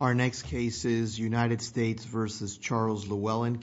v. Charles Llewlyn.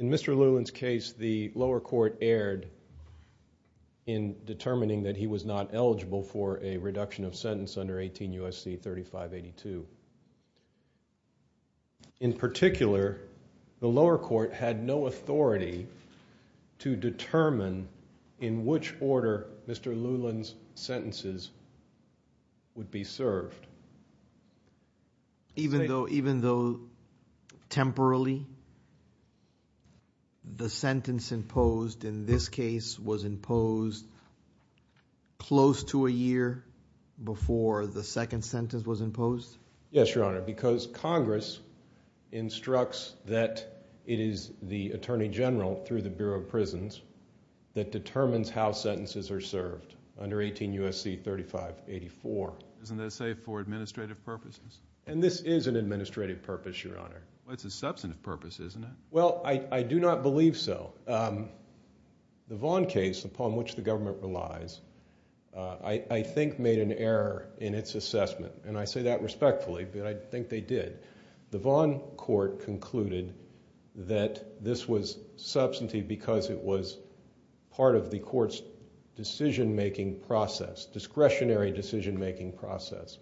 In Mr. Llewlyn's case, the lower court erred in determining that he was not eligible for a reduction of sentence under 18 U.S.C. 3582. In particular, the lower court had no authority to determine in which order Mr. Llewlyn's sentences would be served. Even though, temporarily, the sentence imposed in this case was imposed close to a year before the second sentence was imposed? Yes, Your Honor, because Congress instructs that it is the Attorney General through the Bureau of Prisons that determines how sentences are served under 18 U.S.C. 3584. Isn't that safe for administrative purposes? And this is an administrative purpose, Your Honor. Well, it's a substantive purpose, isn't it? Well, I do not believe so. The Vaughn case, upon which the government relies, I think made an error in its assessment, and I say that respectfully, but I think they did. The Vaughn court concluded that this was substantive because it was part of the court's decision-making process, discretionary decision-making process.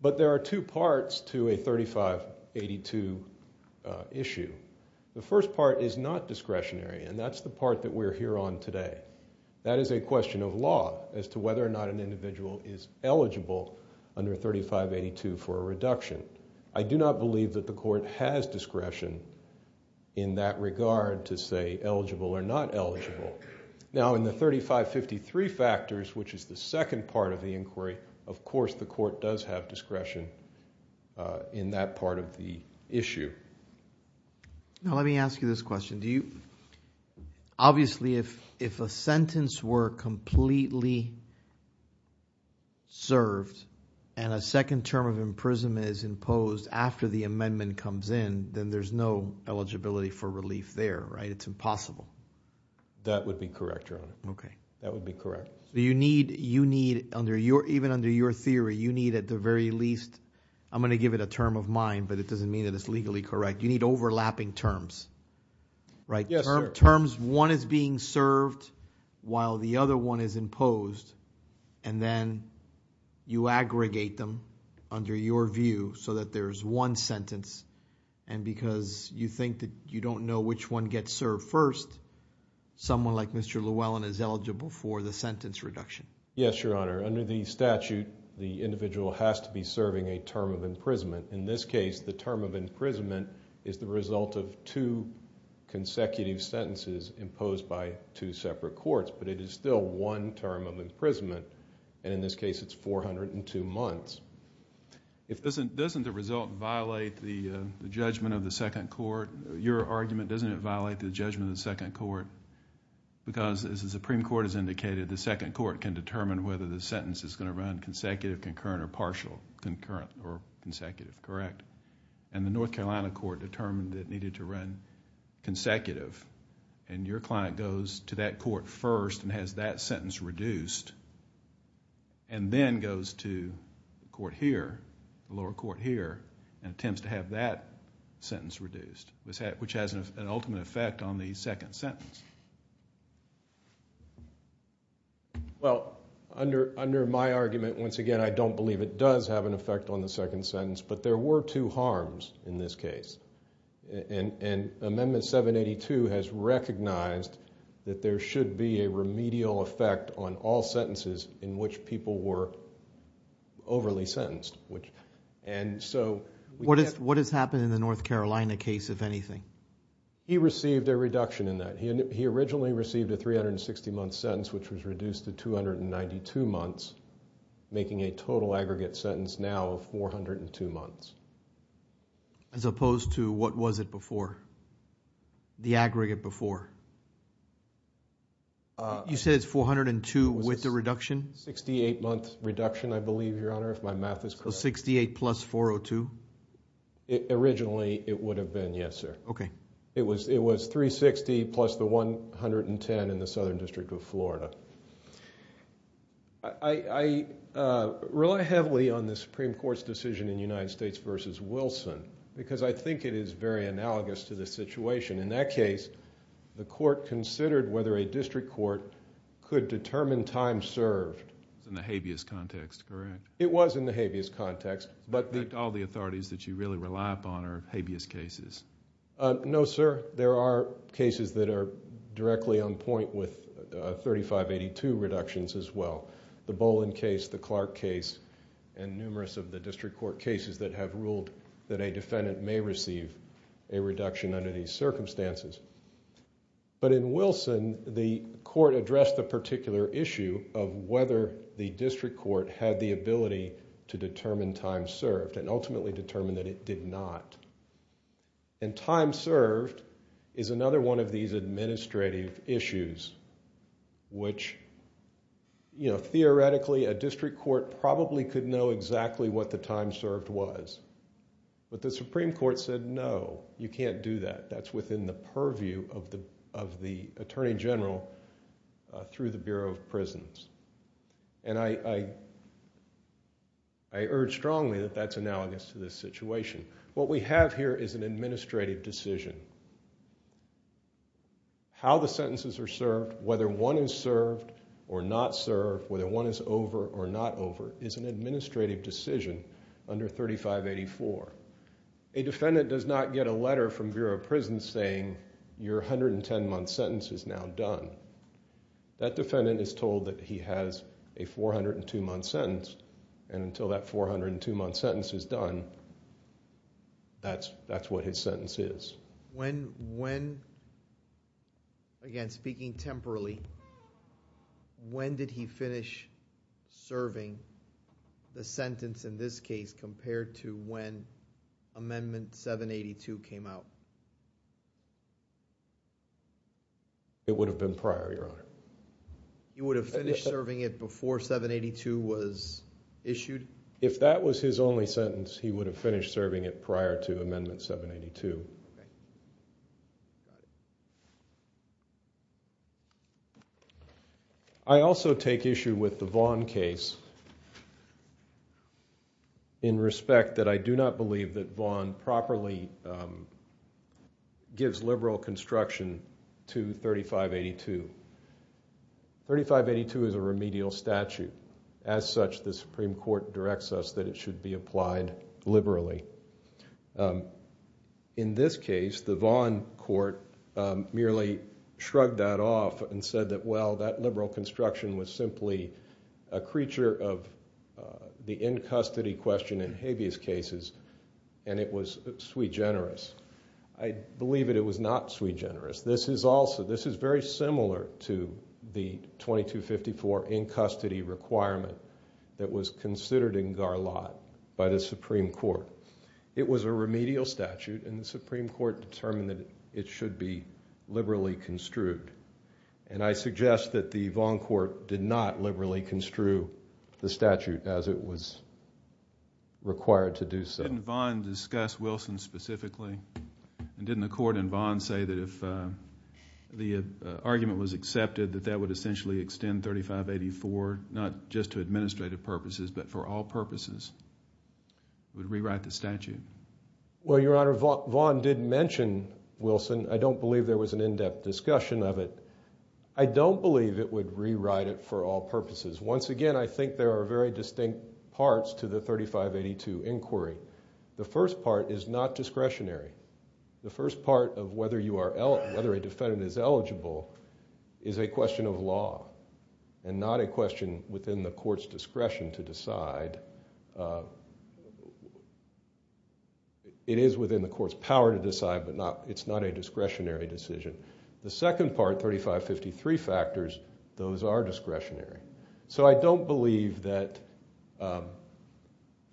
But there are two parts to a 3582 issue. The first part is not discretionary, and that's the part that we're here on today. That is a question of law as to whether or not an individual is eligible under 3582 for a reduction. I do not believe that the court has discretion in that regard to say eligible or not eligible. Now, in the 3553 factors, which is the second part of the inquiry, of course the court does have discretion in that part of the issue. Now, let me ask you this question. Obviously, if a sentence were completely served and a second term of imprisonment is imposed after the amendment comes in, then there's no eligibility for relief there, right? It's impossible. That would be correct, Your Honor. Okay. That would be correct. So you need, even under your theory, you need at the very least, I'm going to give it a term of mine, but it doesn't mean that it's legally correct, you need overlapping terms, right? Yes, sir. Terms, one is being served while the other one is imposed, and then you aggregate them under your view so that there's one sentence, and because you think that you don't know which one gets served first, someone like Mr. Llewellyn is eligible for the sentence reduction. Yes, Your Honor. Under the statute, the individual has to be serving a term of imprisonment. In this case, the term of imprisonment is the result of two consecutive sentences imposed by two separate courts, but it is still one term of imprisonment, and in this case it's 402 months. Doesn't the result violate the judgment of the second court? Your argument, doesn't it violate the judgment of the second court? Because as the Supreme Court has indicated, the second court can determine whether the sentence is going to run consecutive, concurrent, or partial, concurrent or consecutive, correct? And the North Carolina court determined it needed to run consecutive, and your client goes to that court first and has that sentence reduced, and then goes to the court here, the lower court here, and attempts to have that sentence reduced, which has an ultimate effect on the second sentence. Well, under my argument, once again, I don't believe it does have an effect on the second sentence, but there were two harms in this case. And Amendment 782 has recognized that there should be a remedial effect on all sentences in which people were overly sentenced, and so... What has happened in the North Carolina case, if anything? He received a reduction in that. He originally received a 360-month sentence, which was reduced to 292 months, making a total aggregate sentence now of 402 months. As opposed to what was it before? The aggregate before? You said it's 402 with the reduction? 68-month reduction, I believe, Your Honor, if my math is correct. So 68 plus 402? Originally, it would have been, yes, sir. Okay. It was 360 plus the 110 in the Southern District of Florida. I rely heavily on the Supreme Court's decision in United States v. Wilson, because I think it is very analogous to the situation. In that case, the court considered whether a district court could determine time served. It's in the habeas context, correct? It was in the habeas context, but... All the authorities that you really rely upon are habeas cases. No, sir. There are cases that are directly on point with 3582 reductions as well. The Bolin case, the Clark case, and numerous of the district court cases that have ruled that a defendant may receive a reduction under these circumstances. But in Wilson, the court addressed the particular issue of whether the district court had the ability to determine time served, and ultimately determined that it did not. And time served is another one of these administrative issues, which, you know, theoretically a district court probably could know exactly what the time served was. But the Supreme Court said, no, you can't do that. That's within the purview of the Attorney General through the Bureau of Prisons. And I urge strongly that that's analogous to this situation. What we have here is an administrative decision. How the sentences are served, whether one is served or not served, whether one is over or not over, is an administrative decision under 3584. A defendant does not get a letter from Bureau of Prisons saying, your 110-month sentence is now done. That defendant is told that he has a 402-month sentence, and until that 402-month sentence is done, that's what his sentence is. When, again, speaking temporally, when did he finish serving the sentence in this case compared to when Amendment 782 came out? It would have been prior, Your Honor. He would have finished serving it before 782 was issued? If that was his only sentence, he would have finished serving it prior to Amendment 782. I also take issue with the Vaughn case in respect that I do not believe that Vaughn properly gives liberal construction to 3582. 3582 is a remedial statute. As such, the Supreme Court directs us that it should be applied liberally. In this case, the Vaughn court merely shrugged that off and said that, well, that liberal construction was simply a creature of the in-custody question in habeas cases, and it was sui generis. I believe that it was not sui generis. This is very similar to the 2254 in-custody requirement that was considered in Garlot by the Supreme Court. It was a remedial statute, and the Supreme Court determined that it should be liberally construed. I suggest that the Vaughn court did not liberally construe the statute as it was required to do so. Didn't Vaughn discuss Wilson specifically, and didn't the court in Vaughn say that if the argument was accepted that that would essentially extend 3584 not just to administrative purposes but for all purposes, it would rewrite the statute? Well, Your Honor, Vaughn did mention Wilson. I don't believe there was an in-depth discussion of it. I don't believe it would rewrite it for all purposes. Once again, I think there are very distinct parts to the 3582 inquiry. The first part is not discretionary. The first part of whether a defendant is eligible is a question of law and not a question within the court's discretion to decide. It is within the court's power to decide, but it's not a discretionary decision. The second part, 3553 factors, those are discretionary. So I don't believe that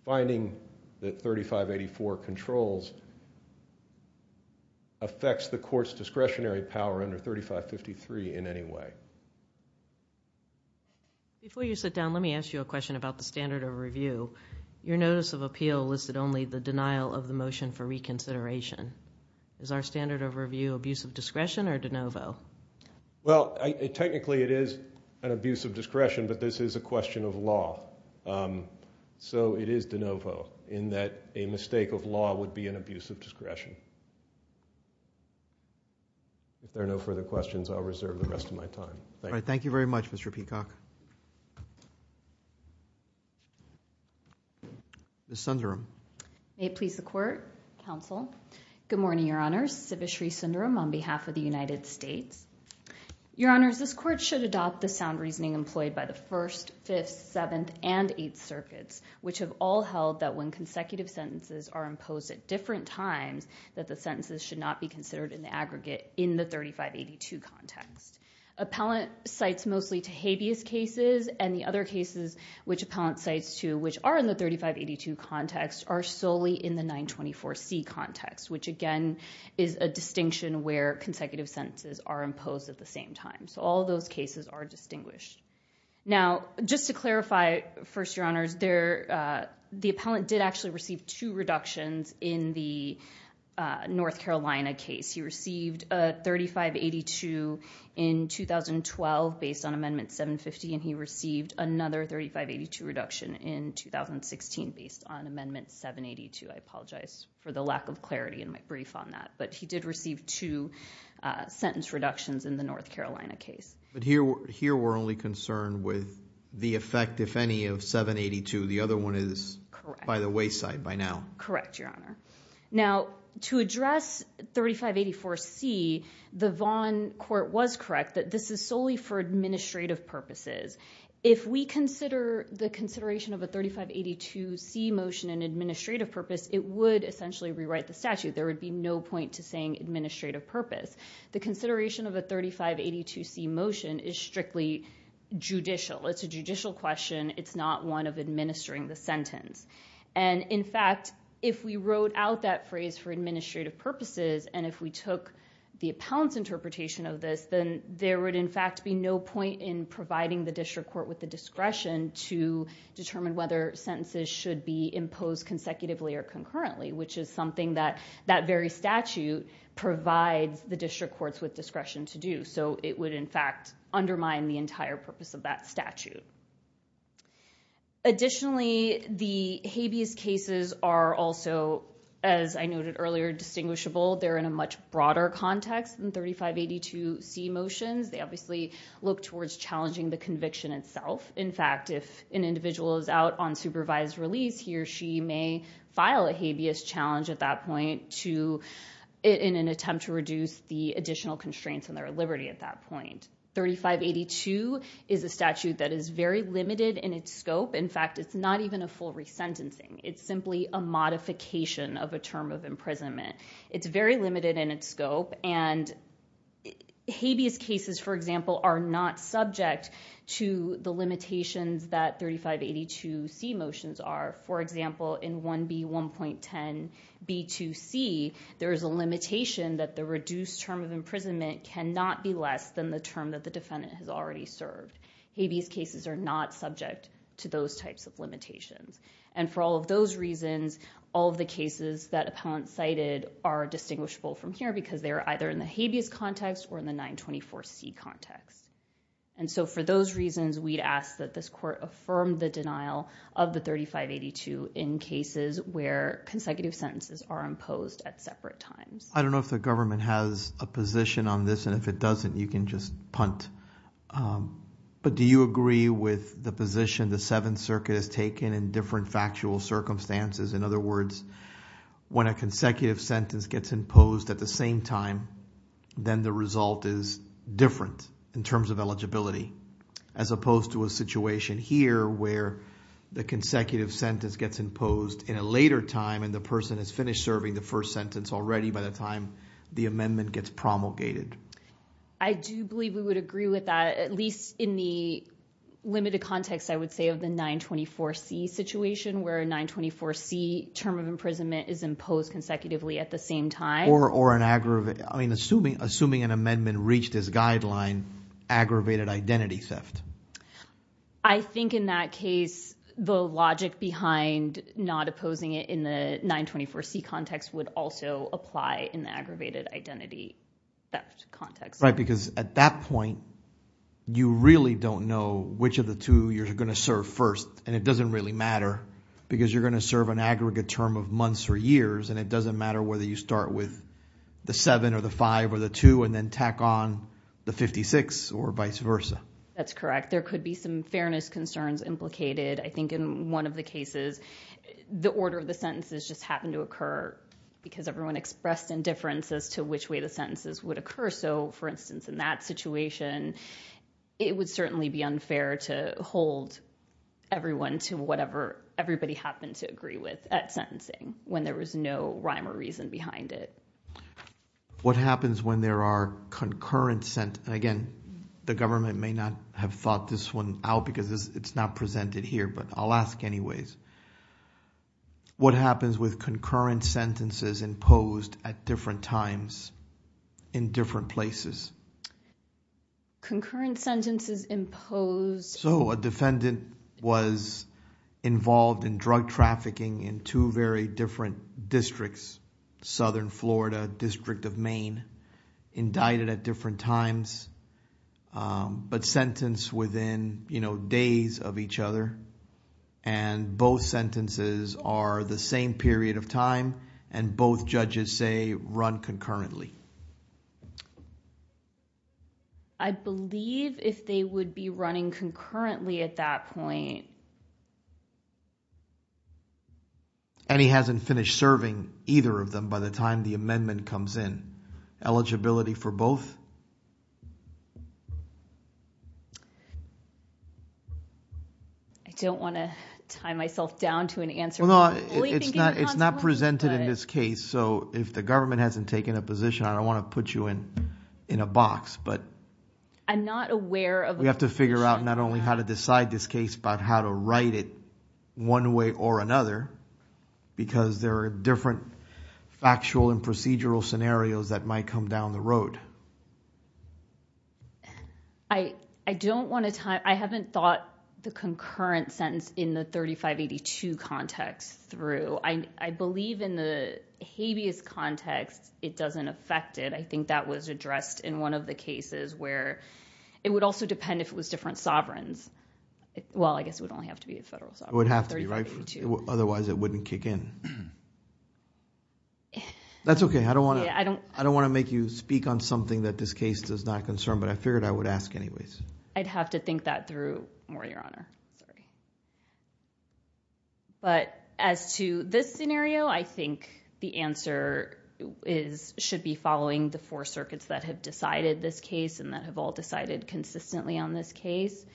finding that 3584 controls affects the court's discretionary power under 3553 in any way. Before you sit down, let me ask you a question about the standard of review. Your notice of appeal listed only the denial of the motion for reconsideration. Is our standard of review abuse of discretion or de novo? Well, technically it is an abuse of discretion, but this is a question of law. So it is de novo in that a mistake of law would be an abuse of discretion. If there are no further questions, I'll reserve the rest of my time. Thank you. Thank you very much, Mr. Peacock. Ms. Sundaram. May it please the court, counsel. Good morning, your honors. Sivashree Sundaram on behalf of the United States. Your honors, this court should adopt the sound reasoning employed by the First, Fifth, Seventh, and Eighth Circuits, which have all held that when consecutive sentences are imposed at different times, that the sentences should not be considered in the aggregate in the 3582 context. Appellant cites mostly to habeas cases, and the other cases which appellant cites to, which are in the 3582 context, are solely in the 924C context, which again is a distinction where consecutive sentences are imposed at the same time. So all of those cases are distinguished. Now, just to clarify, first, your honors, the appellant did actually receive two reductions in the North Carolina case. He received a 3582 in 2012 based on Amendment 750, and he received another 3582 reduction in 2016 based on Amendment 782. I apologize for the lack of clarity in my brief on that. But he did receive two sentence reductions in the North Carolina case. But here we're only concerned with the effect, if any, of 782. The other one is by the wayside, by now. Correct, your honor. Now, to address 3584C, the Vaughan court was correct that this is solely for administrative purposes. If we consider the consideration of a 3582C motion in administrative purpose, it would essentially rewrite the statute. There would be no point to saying administrative purpose. The consideration of a 3582C motion is strictly judicial. It's a judicial question. It's not one of administering the sentence. And in fact, if we wrote out that phrase for administrative purposes, and if we took the appellant's interpretation of this, then there would, in fact, be no point in providing the district court with the discretion to determine whether sentences should be imposed consecutively or concurrently, which is something that that very statute provides the district courts with discretion to do. So it would, in fact, undermine the entire purpose of that statute. Additionally, the habeas cases are also, as I noted earlier, distinguishable. They're in a much broader context than 3582C motions. They obviously look towards challenging the conviction itself. In fact, if an individual is out on supervised release, he or she may file a habeas challenge at that point in an attempt to reduce the additional constraints on their liberty at that point. 3582 is a statute that is very limited in its scope. In fact, it's not even a full resentencing. It's simply a modification of a term of imprisonment. It's very limited in its scope. And habeas cases, for example, are not subject to the limitations that 3582C motions are. For example, in 1B1.10b2c, there is a limitation that the reduced term of imprisonment cannot be less than the term that the defendant has already served. Habeas cases are not subject to those types of limitations. And for all of those reasons, all of the cases that appellant cited are distinguishable from here because they are either in the habeas context or in the 924C context. And so for those reasons, we'd ask that this court affirm the denial of the 3582 in cases where consecutive sentences are imposed at separate times. I don't know if the government has a position on this. And if it doesn't, you can just punt. But do you agree with the position the Seventh Circuit has taken in different factual circumstances? In other words, when a consecutive sentence gets imposed at the same time, then the result is different in terms of eligibility, as opposed to a situation here where the consecutive sentence gets imposed in a later time and the person has finished serving the first sentence already by the time the amendment gets promulgated. I do believe we would agree with that, at least in the limited context, I would say, of the 924C situation, where a 924C term of imprisonment is imposed consecutively at the same time. Or an aggravated. I mean, assuming an amendment reached this guideline, aggravated identity theft. I think in that case, the logic behind not opposing it in the 924C context would also apply in the aggravated identity theft context. Right, because at that point, you really don't know which of the two you're going to serve first. And it doesn't really matter, because you're going to serve an aggregate term of months or years. And it doesn't matter whether you start with the 7, or the 5, or the 2, and then tack on the 56, or vice versa. That's correct. There could be some fairness concerns implicated. I think in one of the cases, the order of the sentences just happened to occur, because everyone expressed indifference as to which way the sentences would occur. So for instance, in that situation, it would certainly be unfair to hold everyone to whatever everybody happened to agree with at sentencing, when there was no rhyme or reason behind it. What happens when there are concurrent sentences? And again, the government may not have thought this one out, because it's not presented here. But I'll ask anyways. What happens with concurrent sentences imposed at different times, in different places? Concurrent sentences imposed. So a defendant was involved in drug trafficking in two very different districts. Southern Florida, District of Maine. Indicted at different times, but sentenced within days of each other. And both sentences are the same period of time. And both judges say, run concurrently. I believe if they would be running concurrently at that point. And he hasn't finished serving either of them by the time the amendment comes in. Eligibility for both? I don't want to tie myself down to an answer. It's not presented in this case. So if the government hasn't taken a position, I don't want to put you in a box. But we have to figure out not only how to decide this case, but how to write it one way or another. Because there are different factual and procedural scenarios that might come down the road. I haven't thought the concurrent sentence in the 3582 context through. I believe in the habeas context, it doesn't affect it. I think that was addressed in one of the cases where it would also depend if it was different sovereigns. Well, I guess it would only have to be a federal sovereign. It would have to be, right? Otherwise, it wouldn't kick in. I don't want to make you speak on something that's not your case. Something that this case does not concern. But I figured I would ask anyways. I'd have to think that through more, Your Honor. Sorry. But as to this scenario, I think the answer should be following the four circuits that have decided this case and that have all decided consistently on this case.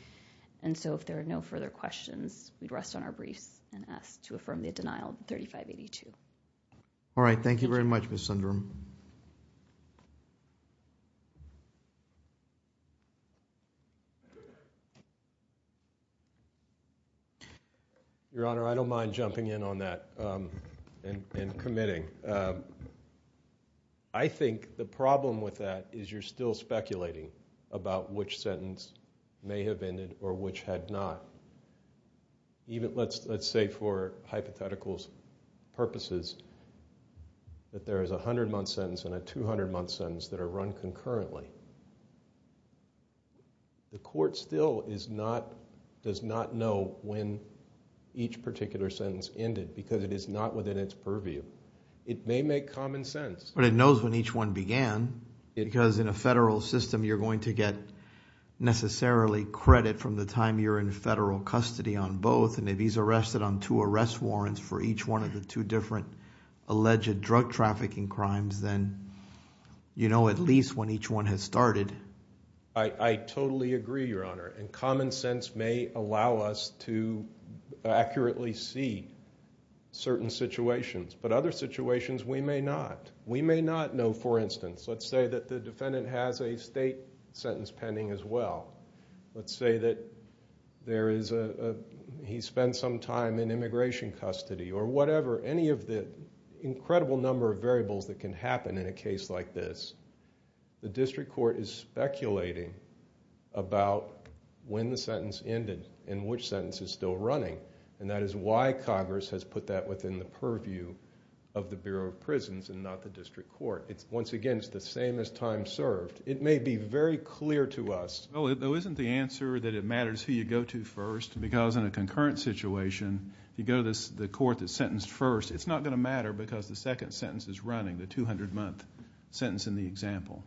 And so if there are no further questions, we'd rest on our briefs and ask to affirm the denial of 3582. All right. Thank you very much, Ms. Sundrum. Thank you. Your Honor, I don't mind jumping in on that and committing. I think the problem with that is you're still speculating about which sentence may have ended or which had not. Let's say for hypothetical purposes that there is a 100-month sentence and a 200-month sentence that are run concurrently. The court still does not know when each particular sentence ended because it is not within its purview. It may make common sense. But it knows when each one began because in a federal system, you're going to get necessarily credit from the time you're in federal custody on both. And if he's arrested on two arrest warrants for each one of the two different alleged drug trafficking crimes, then you know at least when each one has started. I totally agree, Your Honor. And common sense may allow us to accurately see certain situations. But other situations, we may not. We may not know, for instance, let's say that the defendant has a state sentence pending as well. Let's say that he spent some time in immigration custody or whatever. Any of the incredible number of variables that can happen in a case like this, the district court is speculating about when the sentence ended and which sentence is still running. And that is why Congress has put that within the purview of the Bureau of Prisons and not the district court. Once again, it's the same as time served. It may be very clear to us. Well, though, isn't the answer that it matters who you go to first? Because in a concurrent situation, if you go to the court that's sentenced first, it's not going to matter because the second sentence is running, the 200-month sentence in the example.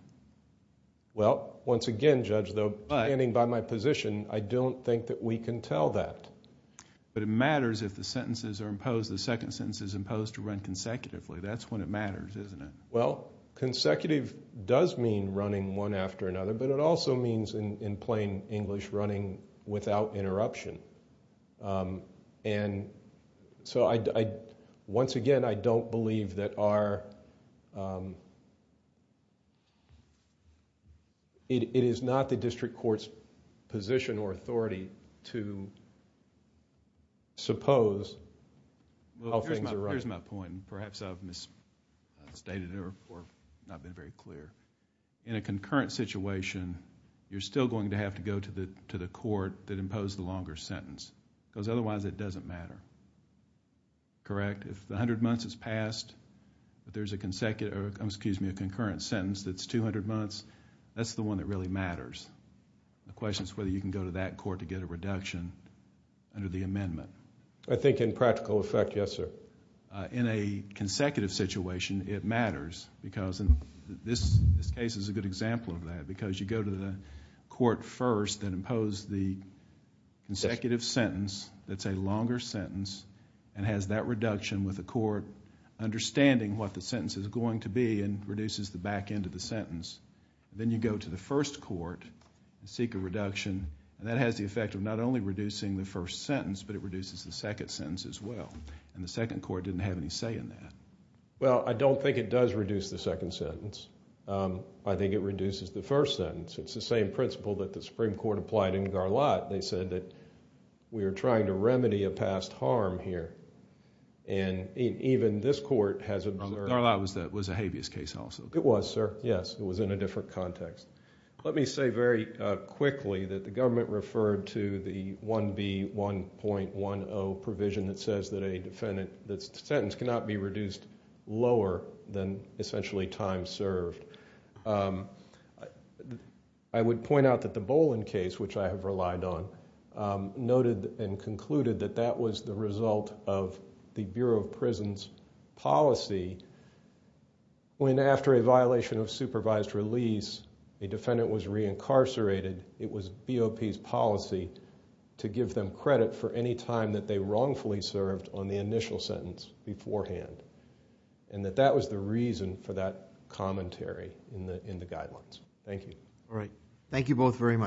Well, once again, Judge, though, standing by my position, I don't think that we can tell that. But it matters if the sentences are imposed, the second sentence is imposed to run consecutively. That's when it matters, isn't it? Well, consecutive does mean running one after another. But it also means, in plain English, running without interruption. And so, once again, I don't believe that our... It is not the district court's position or authority to suppose how things are running. Here's my point, and perhaps I've misstated it or not been very clear. In a concurrent situation, you're still going to have to go to the court that imposed the longer sentence, because otherwise it doesn't matter, correct? If the 100 months has passed, but there's a concurrent sentence that's 200 months, that's the one that really matters. The question is whether you can go to that court to get a reduction under the amendment. I think in practical effect, yes, sir. In a consecutive situation, it matters, because this case is a good example of that, because you go to the court first that imposed the consecutive sentence that's a longer sentence and has that reduction with the court understanding what the sentence is going to be and reduces the back end of the sentence. Then you go to the first court and seek a reduction, and that has the effect of not only reducing the first sentence, but it reduces the second sentence as well. And the second court didn't have any say in that. Well, I don't think it does reduce the second sentence. I think it reduces the first sentence. It's the same principle that the Supreme Court applied in Garlot. They said that we are trying to remedy a past harm here. And even this court has observed... Garlot was a habeas case also. It was, sir, yes. It was in a different context. Let me say very quickly that the government referred to the 1B1.10 provision that says that a sentence cannot be reduced lower than essentially time served. I would point out that the Bolin case, which I have relied on, noted and concluded that that was the result of the Bureau of Prisons' policy when after a violation of supervised release, a defendant was reincarcerated, it was BOP's policy to give them credit for any time that they wrongfully served on the initial sentence beforehand, and that that was the reason for that commentary in the guidelines. Thank you. All right. Thank you both very much.